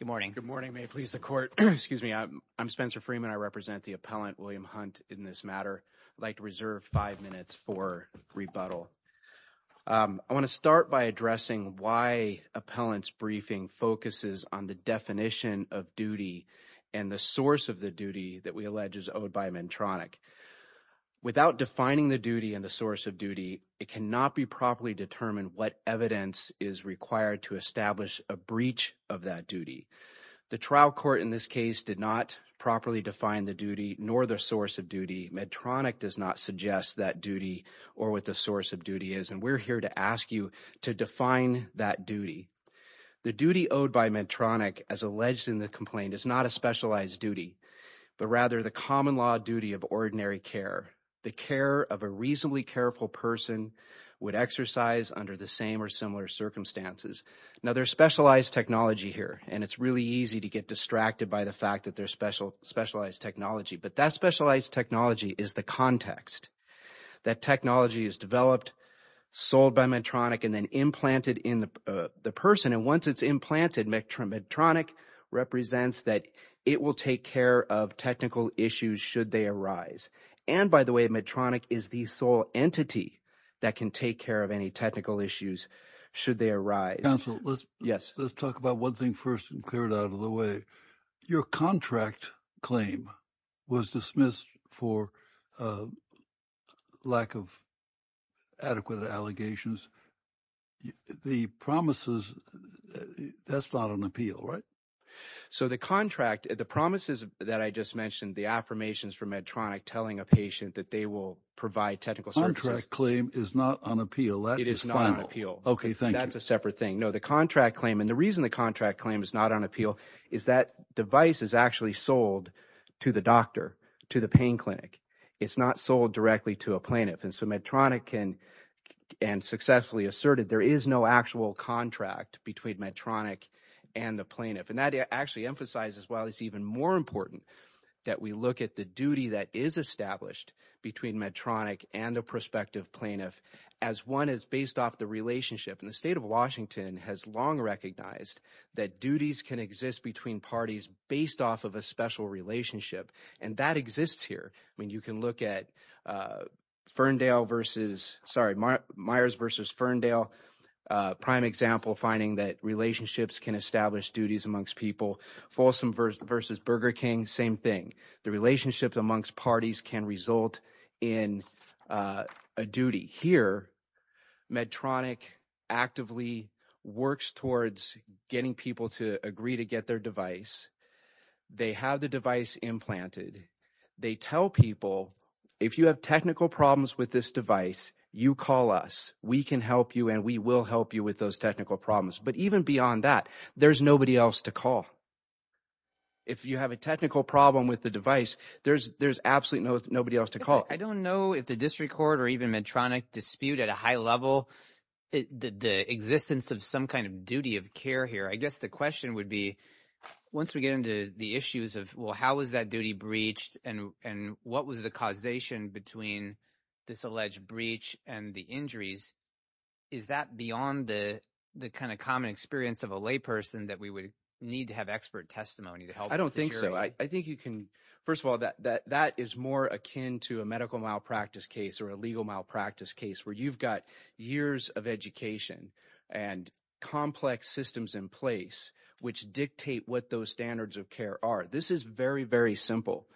Good morning. Good morning. May it please the court. Excuse me. I'm Spencer Freeman. I represent the appellant William Hunt in this matter like to reserve 5 minutes for rebuttal. I want to start by addressing why appellant's briefing focuses on the definition of duty and the source of the duty that we allege is owed by Medtronic without defining the duty and the source of duty. It cannot be properly determined. What evidence is required to establish a breach of that duty. The trial court in this case did not properly define the duty nor the source of duty. Medtronic does not suggest that duty or what the source of duty is and we're here to ask you to define that duty. The duty owed by Medtronic as alleged in the complaint is not a specialized duty but rather the common law duty of ordinary care. The care of a reasonably careful person would exercise under the same or similar circumstances. Now, there's specialized technology here, and it's really easy to get distracted by the fact that there's specialized technology. But that specialized technology is the context that technology is developed, sold by Medtronic, and then implanted in the person. And once it's implanted, Medtronic represents that it will take care of technical issues should they arise. And by the way, Medtronic is the sole entity that can take care of any technical issues should they arise. Let's talk about one thing first and clear it out of the way. Your contract claim was dismissed for lack of adequate allegations. The promises – that's not on appeal, right? So the contract – the promises that I just mentioned, the affirmations from Medtronic telling a patient that they will provide technical services. Contract claim is not on appeal. It is not on appeal. That's a separate thing. No, the contract claim – and the reason the contract claim is not on appeal is that device is actually sold to the doctor, to the pain clinic. It's not sold directly to a plaintiff. And so Medtronic can – and successfully asserted there is no actual contract between Medtronic and the plaintiff. And that actually emphasizes why it's even more important that we look at the duty that is established between Medtronic and a prospective plaintiff as one is based off the relationship. And the state of Washington has long recognized that duties can exist between parties based off of a special relationship, and that exists here. I mean you can look at Ferndale versus – sorry, Myers versus Ferndale, prime example finding that relationships can establish duties amongst people. Folsom versus Burger King, same thing. The relationship amongst parties can result in a duty. Here Medtronic actively works towards getting people to agree to get their device. They have the device implanted. They tell people if you have technical problems with this device, you call us. We can help you and we will help you with those technical problems. But even beyond that, there's nobody else to call. If you have a technical problem with the device, there's absolutely nobody else to call. I don't know if the district court or even Medtronic dispute at a high level the existence of some kind of duty of care here. I guess the question would be once we get into the issues of, well, how is that duty breached and what was the causation between this alleged breach and the injuries? Is that beyond the kind of common experience of a layperson that we would need to have expert testimony to help with the jury? I don't think so. First of all, that is more akin to a medical malpractice case or a legal malpractice case where you've got years of education and complex systems in place which dictate what those standards of care are. This is very, very simple.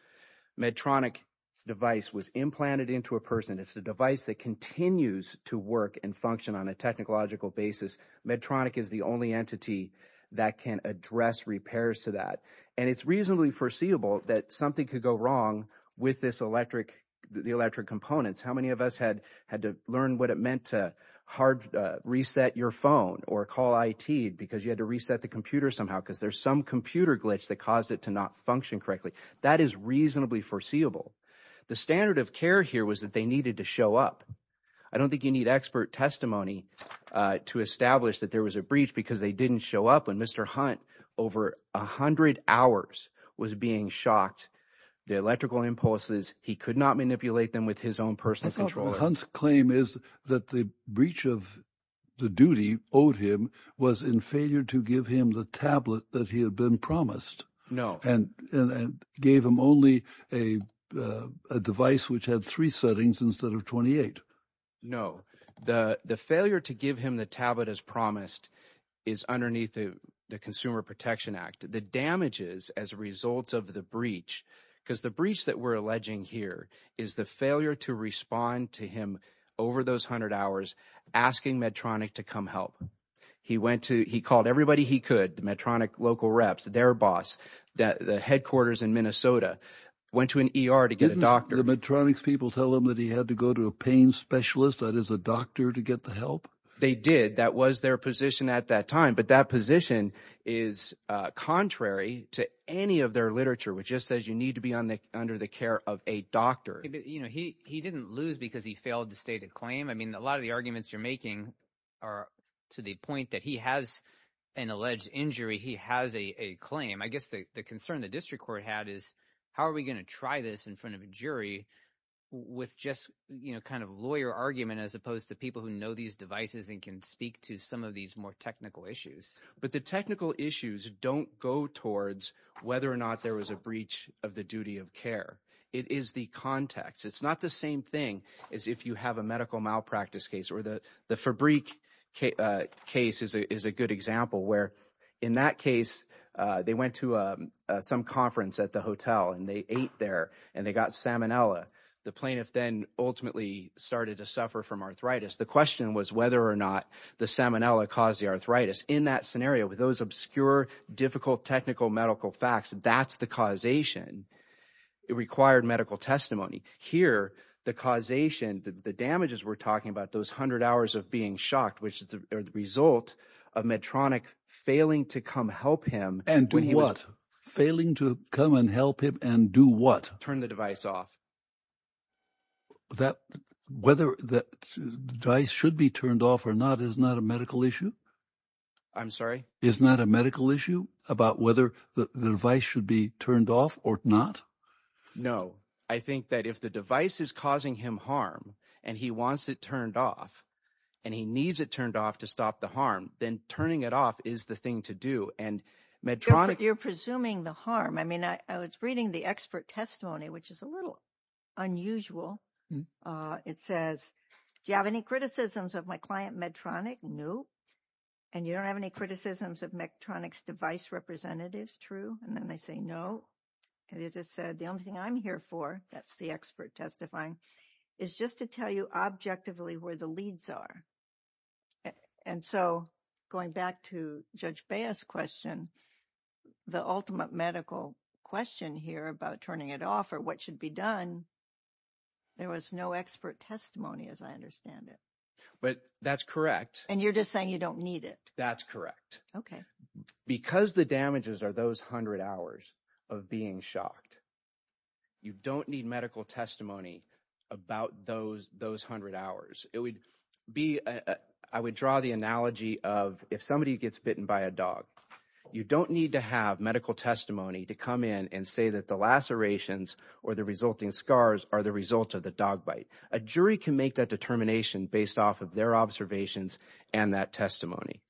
Medtronic's device was implanted into a person. It's a device that continues to work and function on a technological basis. Medtronic is the only entity that can address repairs to that. And it's reasonably foreseeable that something could go wrong with this electric – the electric components. How many of us had to learn what it meant to hard reset your phone or call IT because you had to reset the computer somehow because there's some computer glitch that caused it to not function correctly? That is reasonably foreseeable. The standard of care here was that they needed to show up. I don't think you need expert testimony to establish that there was a breach because they didn't show up. And Mr. Hunt over 100 hours was being shocked. The electrical impulses, he could not manipulate them with his own personal controller. So Hunt's claim is that the breach of the duty owed him was in failure to give him the tablet that he had been promised. And gave him only a device which had three settings instead of 28. No. The failure to give him the tablet as promised is underneath the Consumer Protection Act. The damages as a result of the breach because the breach that we're alleging here is the failure to respond to him over those 100 hours asking Medtronic to come help. He went to – he called everybody he could, the Medtronic local reps, their boss, the headquarters in Minnesota, went to an ER to get a doctor. Didn't the Medtronic's people tell him that he had to go to a pain specialist, that is a doctor, to get the help? They did. That was their position at that time. But that position is contrary to any of their literature, which just says you need to be under the care of a doctor. He didn't lose because he failed the stated claim. I mean a lot of the arguments you're making are to the point that he has an alleged injury. He has a claim. I guess the concern the district court had is how are we going to try this in front of a jury with just kind of lawyer argument as opposed to people who know these devices and can speak to some of these more technical issues? But the technical issues don't go towards whether or not there was a breach of the duty of care. It is the context. It's not the same thing as if you have a medical malpractice case or the Fabrique case is a good example where in that case they went to some conference at the hotel and they ate there and they got salmonella. The plaintiff then ultimately started to suffer from arthritis. The question was whether or not the salmonella caused the arthritis. In that scenario with those obscure difficult technical medical facts, that's the causation. It required medical testimony. Here the causation, the damages we're talking about, those hundred hours of being shocked, which is the result of Medtronic failing to come help him. And do what? Failing to come and help him and do what? Turn the device off. That whether the device should be turned off or not is not a medical issue. I'm sorry, is not a medical issue about whether the device should be turned off or not. No, I think that if the device is causing him harm and he wants it turned off and he needs it turned off to stop the harm, then turning it off is the thing to do. You're presuming the harm. I mean, I was reading the expert testimony, which is a little unusual. It says, do you have any criticisms of my client Medtronic? No. And you don't have any criticisms of Medtronic's device representatives? True. And then they say no. And they just said the only thing I'm here for, that's the expert testifying, is just to tell you objectively where the leads are. And so going back to Judge Baez's question, the ultimate medical question here about turning it off or what should be done, there was no expert testimony as I understand it. But that's correct. And you're just saying you don't need it. That's correct. Okay. Because the damages are those hundred hours of being shocked, you don't need medical testimony about those hundred hours. I would draw the analogy of if somebody gets bitten by a dog, you don't need to have medical testimony to come in and say that the lacerations or the resulting scars are the result of the dog bite. A jury can make that determination based off of their observations and that testimony.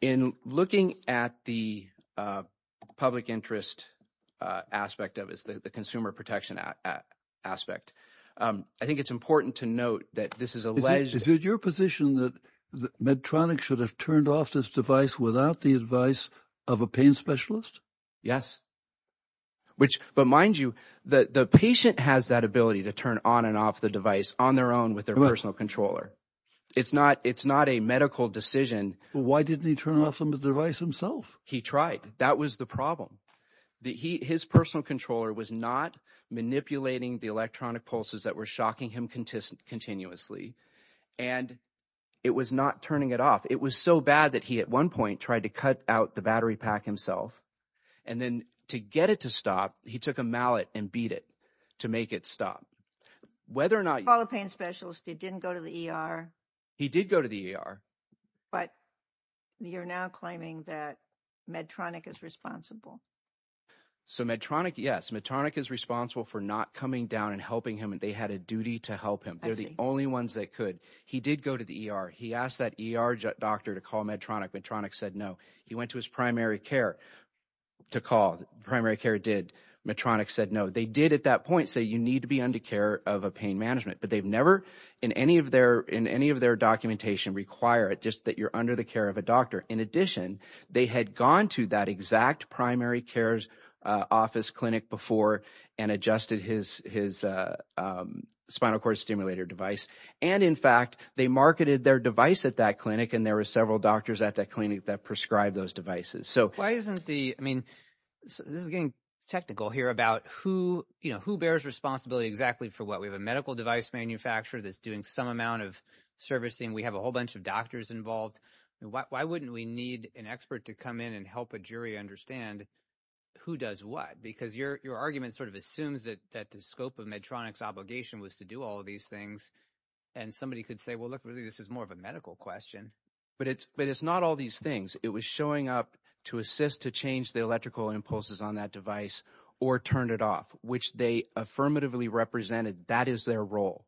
In looking at the public interest aspect of it, the consumer protection aspect, I think it's important to note that this is alleged. Is it your position that Medtronic should have turned off this device without the advice of a pain specialist? Yes. But mind you, the patient has that ability to turn on and off the device on their own with their personal controller. It's not a medical decision. Why didn't he turn off the device himself? He tried. That was the problem. His personal controller was not manipulating the electronic pulses that were shocking him continuously. And it was not turning it off. It was so bad that he at one point tried to cut out the battery pack himself. And then to get it to stop, he took a mallet and beat it to make it stop. Call a pain specialist. He didn't go to the ER. He did go to the ER. But you're now claiming that Medtronic is responsible. So Medtronic, yes. Medtronic is responsible for not coming down and helping him. They had a duty to help him. They're the only ones that could. He did go to the ER. He asked that ER doctor to call Medtronic. Medtronic said no. He went to his primary care to call. Primary care did. Medtronic said no. They did at that point say you need to be under care of a pain management. But they've never in any of their documentation required just that you're under the care of a doctor. In addition, they had gone to that exact primary care's office clinic before and adjusted his spinal cord stimulator device. And, in fact, they marketed their device at that clinic, and there were several doctors at that clinic that prescribed those devices. I mean, this is getting technical here about who bears responsibility exactly for what. We have a medical device manufacturer that's doing some amount of servicing. We have a whole bunch of doctors involved. Why wouldn't we need an expert to come in and help a jury understand who does what? Because your argument sort of assumes that the scope of Medtronic's obligation was to do all of these things. And somebody could say, well, look, really this is more of a medical question. But it's not all these things. It was showing up to assist to change the electrical impulses on that device or turn it off, which they affirmatively represented that is their role.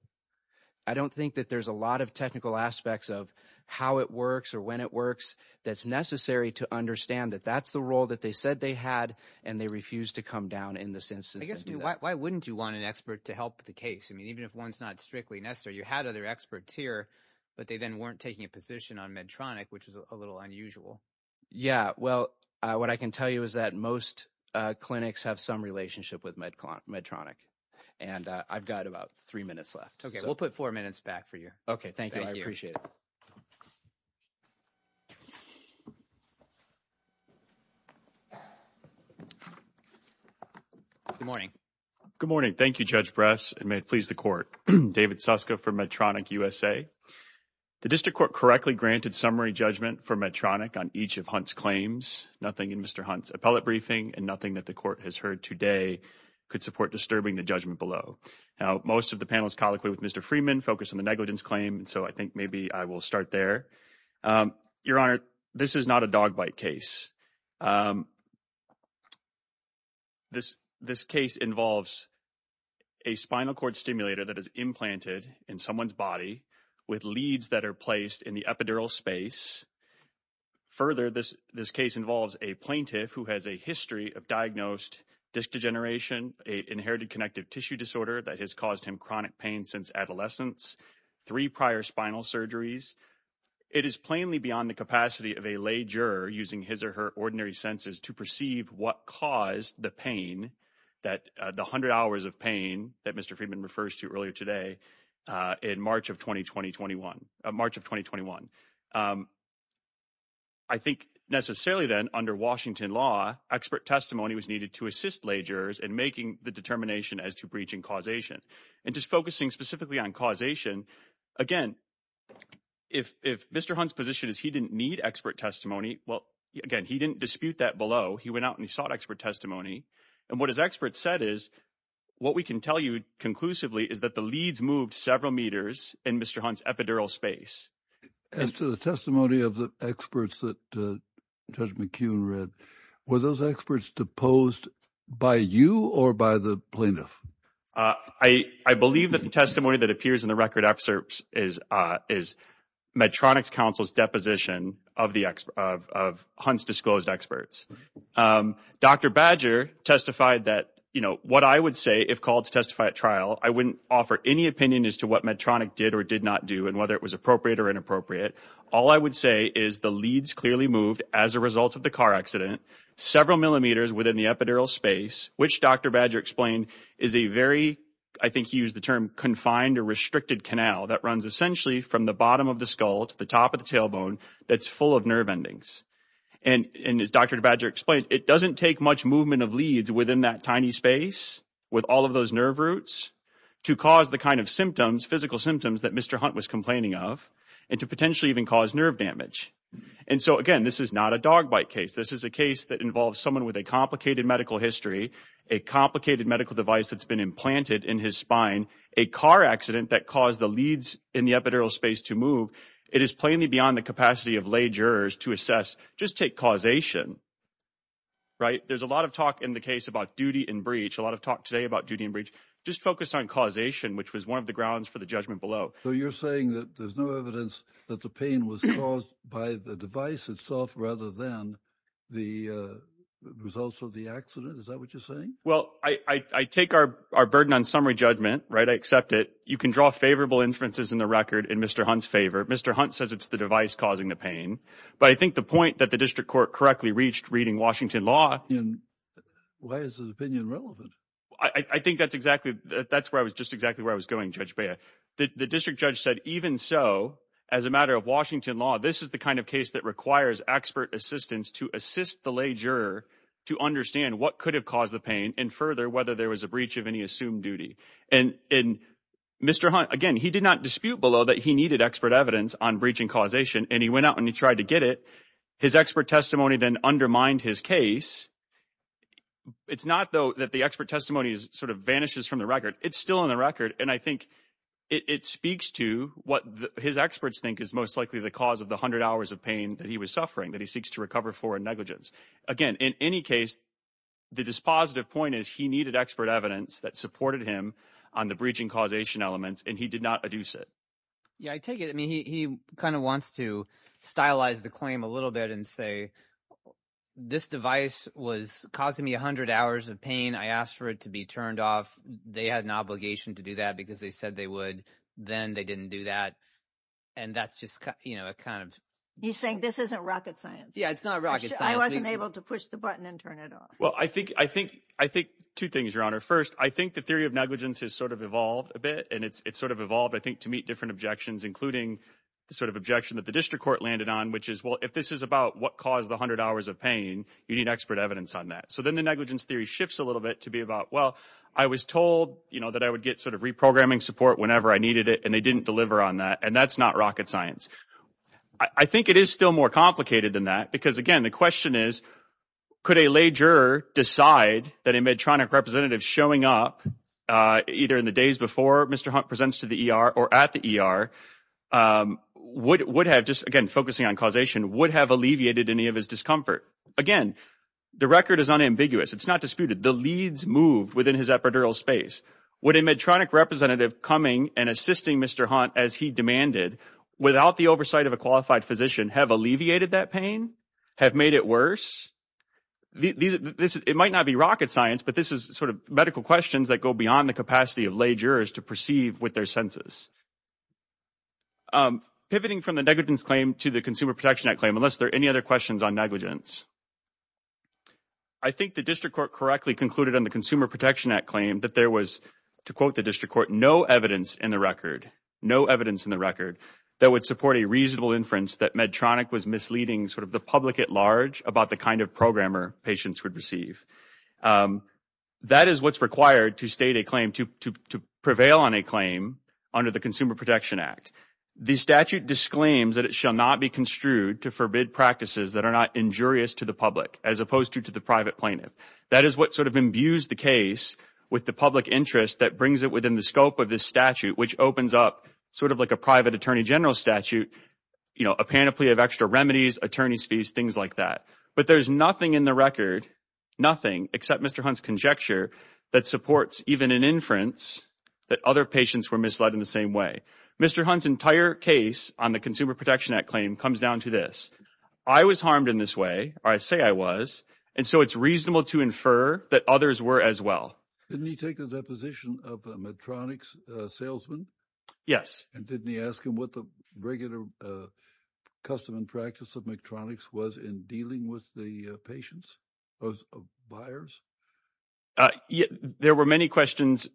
I don't think that there's a lot of technical aspects of how it works or when it works that's necessary to understand that that's the role that they said they had, and they refused to come down in this instance. I guess why wouldn't you want an expert to help the case? I mean, even if one's not strictly necessary, you had other experts here, but they then weren't taking a position on Medtronic, which is a little unusual. Yeah, well, what I can tell you is that most clinics have some relationship with Medtronic, and I've got about three minutes left. Okay, we'll put four minutes back for you. Okay, thank you. I appreciate it. Good morning. Good morning. Thank you, Judge Bress, and may it please the Court. David Suska for Medtronic USA. The District Court correctly granted summary judgment for Medtronic on each of Hunt's claims. Nothing in Mr. Hunt's appellate briefing and nothing that the Court has heard today could support disturbing the judgment below. Now, most of the panelists colloquy with Mr. Freeman focused on the negligence claim, so I think maybe I will start there. Your Honor, this is not a dog bite case. This case involves a spinal cord stimulator that is implanted in someone's body with leads that are placed in the epidural space. Further, this case involves a plaintiff who has a history of diagnosed disc degeneration, an inherited connective tissue disorder that has caused him chronic pain since adolescence, three prior spinal surgeries. It is plainly beyond the capacity of a lay juror using his or her ordinary senses to perceive what caused the pain, the 100 hours of pain that Mr. Freeman refers to earlier today in March of 2021. I think necessarily then, under Washington law, expert testimony was needed to assist lay jurors in making the determination as to breach and causation. And just focusing specifically on causation, again, if Mr. Hunt's position is he didn't need expert testimony, well, again, he didn't dispute that below. He went out and he sought expert testimony. And what his expert said is what we can tell you conclusively is that the leads moved several meters in Mr. Hunt's epidural space. As to the testimony of the experts that Judge McKeown read, were those experts deposed by you or by the plaintiff? I believe that the testimony that appears in the record excerpts is Medtronic's counsel's deposition of Hunt's disclosed experts. Dr. Badger testified that, you know, what I would say if called to testify at trial, I wouldn't offer any opinion as to what Medtronic did or did not do and whether it was appropriate or inappropriate. All I would say is the leads clearly moved, as a result of the car accident, several millimeters within the epidural space, which Dr. Badger explained is a very, I think he used the term, confined or restricted canal that runs essentially from the bottom of the skull to the top of the tailbone that's full of nerve endings. And as Dr. Badger explained, it doesn't take much movement of leads within that tiny space with all of those nerve roots to cause the kind of symptoms, physical symptoms that Mr. Hunt was complaining of and to potentially even cause nerve damage. And so again, this is not a dog bite case. This is a case that involves someone with a complicated medical history, a complicated medical device that's been implanted in his spine, a car accident that caused the leads in the epidural space to move. It is plainly beyond the capacity of lay jurors to assess, just take causation, right? There's a lot of talk in the case about duty and breach, a lot of talk today about duty and breach. Just focus on causation, which was one of the grounds for the judgment below. So you're saying that there's no evidence that the pain was caused by the device itself rather than the results of the accident? Is that what you're saying? Well, I take our burden on summary judgment, right? I accept it. You can draw favorable inferences in the record in Mr. Hunt's favor. Mr. Hunt says it's the device causing the pain. But I think the point that the district court correctly reached reading Washington law. And why is his opinion relevant? I think that's exactly that's where I was just exactly where I was going, Judge Bea. The district judge said even so, as a matter of Washington law, this is the kind of case that requires expert assistance to assist the lay juror to understand what could have caused the pain and further whether there was a breach of any assumed duty. And Mr. Hunt, again, he did not dispute below that he needed expert evidence on breach and causation. And he went out and he tried to get it. His expert testimony then undermined his case. It's not, though, that the expert testimony sort of vanishes from the record. It's still on the record. And I think it speaks to what his experts think is most likely the cause of the 100 hours of pain that he was suffering that he seeks to recover for in negligence. Again, in any case, the dispositive point is he needed expert evidence that supported him on the breaching causation elements and he did not adduce it. Yeah, I take it. I mean, he kind of wants to stylize the claim a little bit and say this device was causing me 100 hours of pain. I asked for it to be turned off. They had an obligation to do that because they said they would. Then they didn't do that. And that's just kind of you saying this isn't rocket science. Yeah, it's not rocket science. I wasn't able to push the button and turn it off. Well, I think two things, Your Honor. First, I think the theory of negligence has sort of evolved a bit and it's sort of evolved, I think, to meet different objections, including the sort of objection that the district court landed on, which is, well, if this is about what caused the 100 hours of pain, you need expert evidence on that. So then the negligence theory shifts a little bit to be about, well, I was told that I would get sort of reprogramming support whenever I needed it, and they didn't deliver on that, and that's not rocket science. I think it is still more complicated than that because, again, the question is could a lay juror decide that a Medtronic representative showing up either in the days before Mr. Hunt presents to the ER or at the ER would have just, again, focusing on causation, would have alleviated any of his discomfort? Again, the record is unambiguous. It's not disputed. The leads moved within his epidural space. Would a Medtronic representative coming and assisting Mr. Hunt as he demanded without the oversight of a qualified physician have alleviated that pain, have made it worse? It might not be rocket science, but this is sort of medical questions that go beyond the capacity of lay jurors to perceive with their senses. Pivoting from the negligence claim to the Consumer Protection Act claim, unless there are any other questions on negligence. I think the district court correctly concluded on the Consumer Protection Act claim that there was, to quote the district court, no evidence in the record, no evidence in the record that would support a reasonable inference that Medtronic was misleading sort of the public at large about the kind of programmer patients would receive. That is what's required to state a claim to prevail on a claim under the Consumer Protection Act. The statute disclaims that it shall not be construed to forbid practices that are not injurious to the public, as opposed to to the private plaintiff. That is what sort of imbues the case with the public interest that brings it within the scope of this statute, which opens up sort of like a private attorney general statute, you know, a panoply of extra remedies, attorney's fees, things like that. But there's nothing in the record, nothing, except Mr. Hunt's conjecture that supports even an inference that other patients were misled in the same way. Mr. Hunt's entire case on the Consumer Protection Act claim comes down to this. I was harmed in this way, or I say I was, and so it's reasonable to infer that others were as well. Didn't he take a deposition of Medtronic's salesman? Yes. And didn't he ask him what the regular custom and practice of Medtronic's was in dealing with the patients of buyers? There were many questions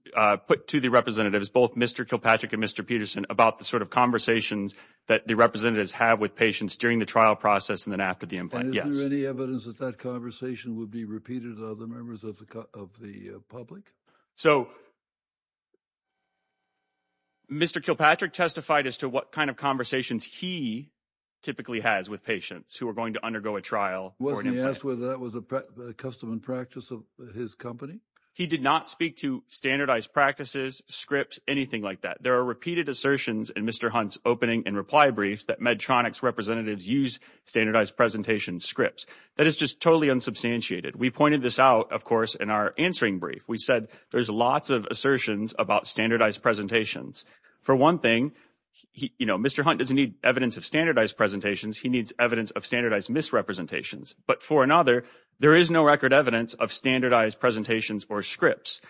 put to the representatives, both Mr. Kilpatrick and Mr. Peterson, about the sort of conversations that the representatives have with patients during the trial process and then after the implant. And is there any evidence that that conversation would be repeated to other members of the public? So Mr. Kilpatrick testified as to what kind of conversations he typically has with patients who are going to undergo a trial for an implant. Did he ask whether that was a custom and practice of his company? He did not speak to standardized practices, scripts, anything like that. There are repeated assertions in Mr. Hunt's opening and reply briefs that Medtronic's representatives use standardized presentation scripts. That is just totally unsubstantiated. We pointed this out, of course, in our answering brief. We said there's lots of assertions about standardized presentations. For one thing, Mr. Hunt doesn't need evidence of standardized presentations. He needs evidence of standardized misrepresentations. But for another, there is no record evidence of standardized presentations or scripts.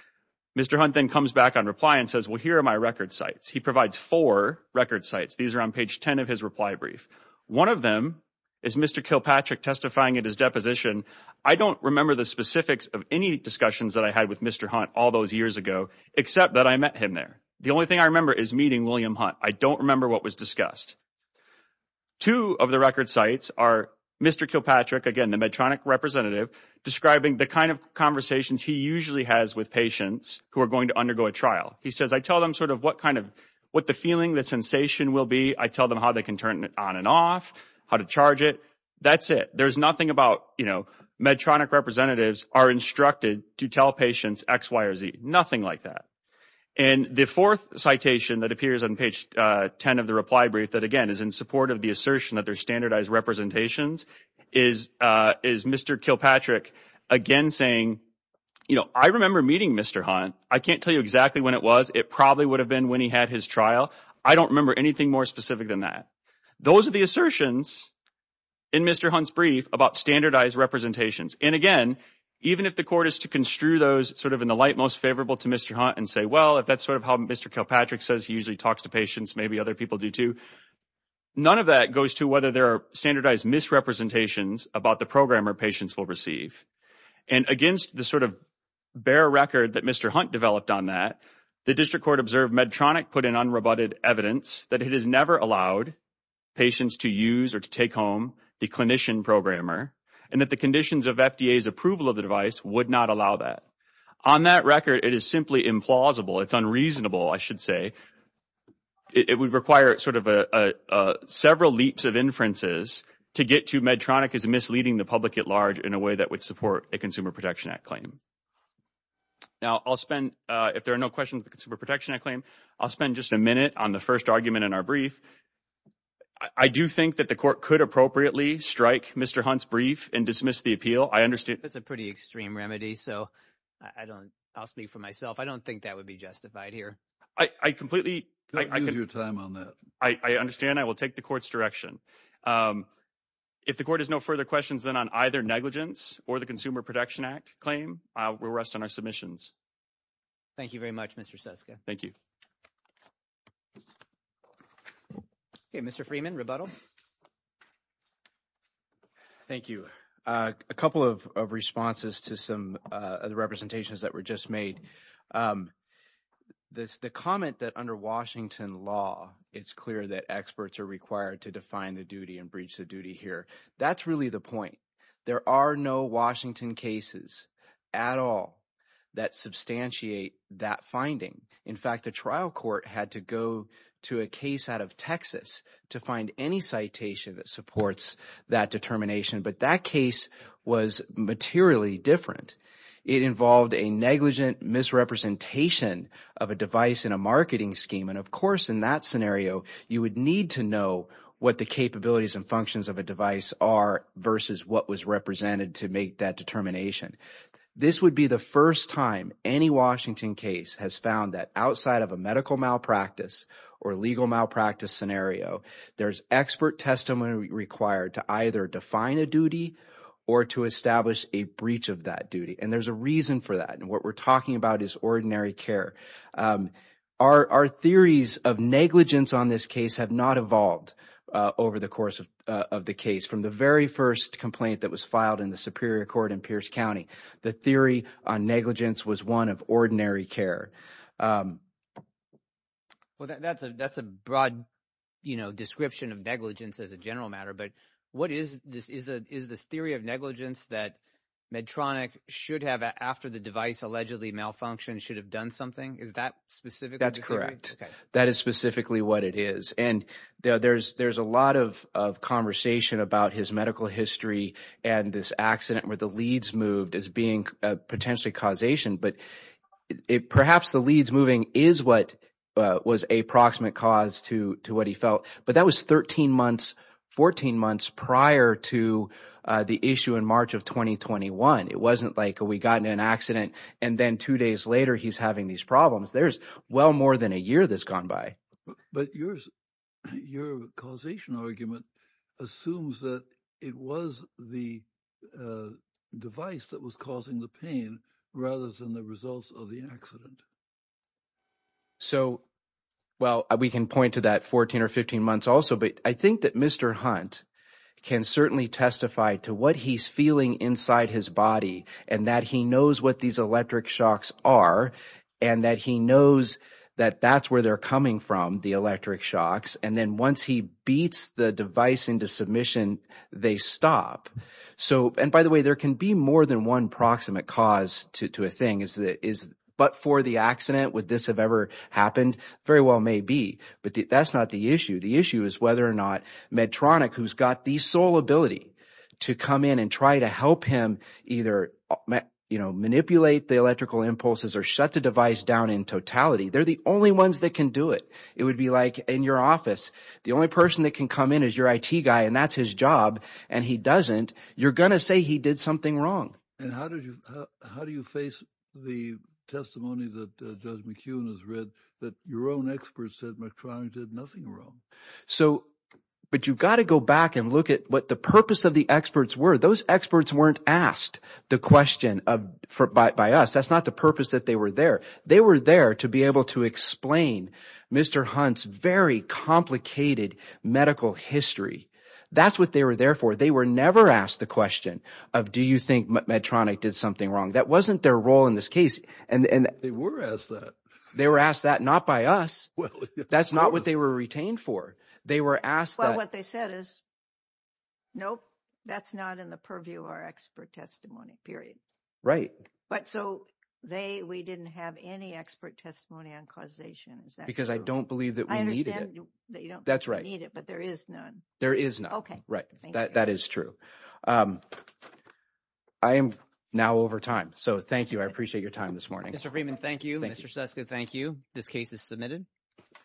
Mr. Hunt then comes back on reply and says, well, here are my record sites. He provides four record sites. These are on page 10 of his reply brief. One of them is Mr. Kilpatrick testifying at his deposition. I don't remember the specifics of any discussions that I had with Mr. Hunt all those years ago, except that I met him there. And the only thing I remember is meeting William Hunt. I don't remember what was discussed. Two of the record sites are Mr. Kilpatrick, again, the Medtronic representative, describing the kind of conversations he usually has with patients who are going to undergo a trial. He says, I tell them sort of what kind of what the feeling, the sensation will be. I tell them how they can turn it on and off, how to charge it. That's it. There's nothing about, you know, Medtronic representatives are instructed to tell patients X, Y, or Z. Nothing like that. And the fourth citation that appears on page 10 of the reply brief that, again, is in support of the assertion that they're standardized representations, is Mr. Kilpatrick again saying, you know, I remember meeting Mr. Hunt. I can't tell you exactly when it was. It probably would have been when he had his trial. I don't remember anything more specific than that. Those are the assertions in Mr. Hunt's brief about standardized representations. And, again, even if the court is to construe those sort of in the light most favorable to Mr. Hunt and say, well, if that's sort of how Mr. Kilpatrick says he usually talks to patients, maybe other people do too, none of that goes to whether there are standardized misrepresentations about the programmer patients will receive. And against the sort of bare record that Mr. Hunt developed on that, the district court observed Medtronic put in unrebutted evidence that it has never allowed patients to use or to take home the clinician programmer and that the conditions of FDA's approval of the device would not allow that. On that record, it is simply implausible. It's unreasonable, I should say. It would require sort of several leaps of inferences to get to Medtronic as misleading the public at large in a way that would support a Consumer Protection Act claim. Now, I'll spend, if there are no questions on the Consumer Protection Act claim, I'll spend just a minute on the first argument in our brief. I do think that the court could appropriately strike Mr. Hunt's brief and dismiss the appeal. That's a pretty extreme remedy, so I'll speak for myself. I don't think that would be justified here. I completely— Don't lose your time on that. I understand. I will take the court's direction. If the court has no further questions, then, on either negligence or the Consumer Protection Act claim, we'll rest on our submissions. Thank you very much, Mr. Suska. Thank you. Okay, Mr. Freeman, rebuttal. Thank you. A couple of responses to some of the representations that were just made. The comment that under Washington law, it's clear that experts are required to define the duty and breach the duty here, that's really the point. There are no Washington cases at all that substantiate that finding. In fact, the trial court had to go to a case out of Texas to find any citation that supports that determination. But that case was materially different. It involved a negligent misrepresentation of a device in a marketing scheme. And, of course, in that scenario, you would need to know what the capabilities and functions of a device are versus what was represented to make that determination. This would be the first time any Washington case has found that outside of a medical malpractice or legal malpractice scenario, there's expert testimony required to either define a duty or to establish a breach of that duty. And there's a reason for that, and what we're talking about is ordinary care. Our theories of negligence on this case have not evolved over the course of the case. From the very first complaint that was filed in the Superior Court in Pierce County, the theory on negligence was one of ordinary care. Well, that's a broad description of negligence as a general matter, but what is this theory of negligence that Medtronic should have after the device allegedly malfunctioned should have done something? Is that specifically the theory? That's correct. That is specifically what it is. And there's a lot of conversation about his medical history and this accident where the leads moved as being potentially causation. But perhaps the leads moving is what was a proximate cause to what he felt. But that was 13 months, 14 months prior to the issue in March of 2021. It wasn't like we got in an accident and then two days later he's having these problems. There's well more than a year that's gone by. But your causation argument assumes that it was the device that was causing the pain rather than the results of the accident. So, well, we can point to that 14 or 15 months also. But I think that Mr. Hunt can certainly testify to what he's feeling inside his body and that he knows what these electric shocks are and that he knows that that's where they're coming from, the electric shocks. And then once he beats the device into submission, they stop. So – and by the way, there can be more than one proximate cause to a thing. But for the accident, would this have ever happened? Very well may be. But that's not the issue. The issue is whether or not Medtronic, who's got the sole ability to come in and try to help him either manipulate the electrical impulses or shut the device down in totality. They're the only ones that can do it. It would be like in your office. The only person that can come in is your IT guy and that's his job and he doesn't. You're going to say he did something wrong. And how do you face the testimony that Judge McKeown has read that your own experts said Medtronic did nothing wrong? So – but you've got to go back and look at what the purpose of the experts were. Those experts weren't asked the question by us. That's not the purpose that they were there. They were there to be able to explain Mr. Hunt's very complicated medical history. That's what they were there for. They were never asked the question of do you think Medtronic did something wrong? That wasn't their role in this case. They were asked that. They were asked that not by us. That's not what they were retained for. They were asked that. Well, what they said is, nope, that's not in the purview of our expert testimony, period. Right. But so they – we didn't have any expert testimony on causation. Is that true? Because I don't believe that we needed it. I understand that you don't need it but there is none. There is none. Okay. Right. Thank you. That is true. I am now over time, so thank you. I appreciate your time this morning. Mr. Freeman, thank you. Thank you. Mr. Seska, thank you. This case is submitted.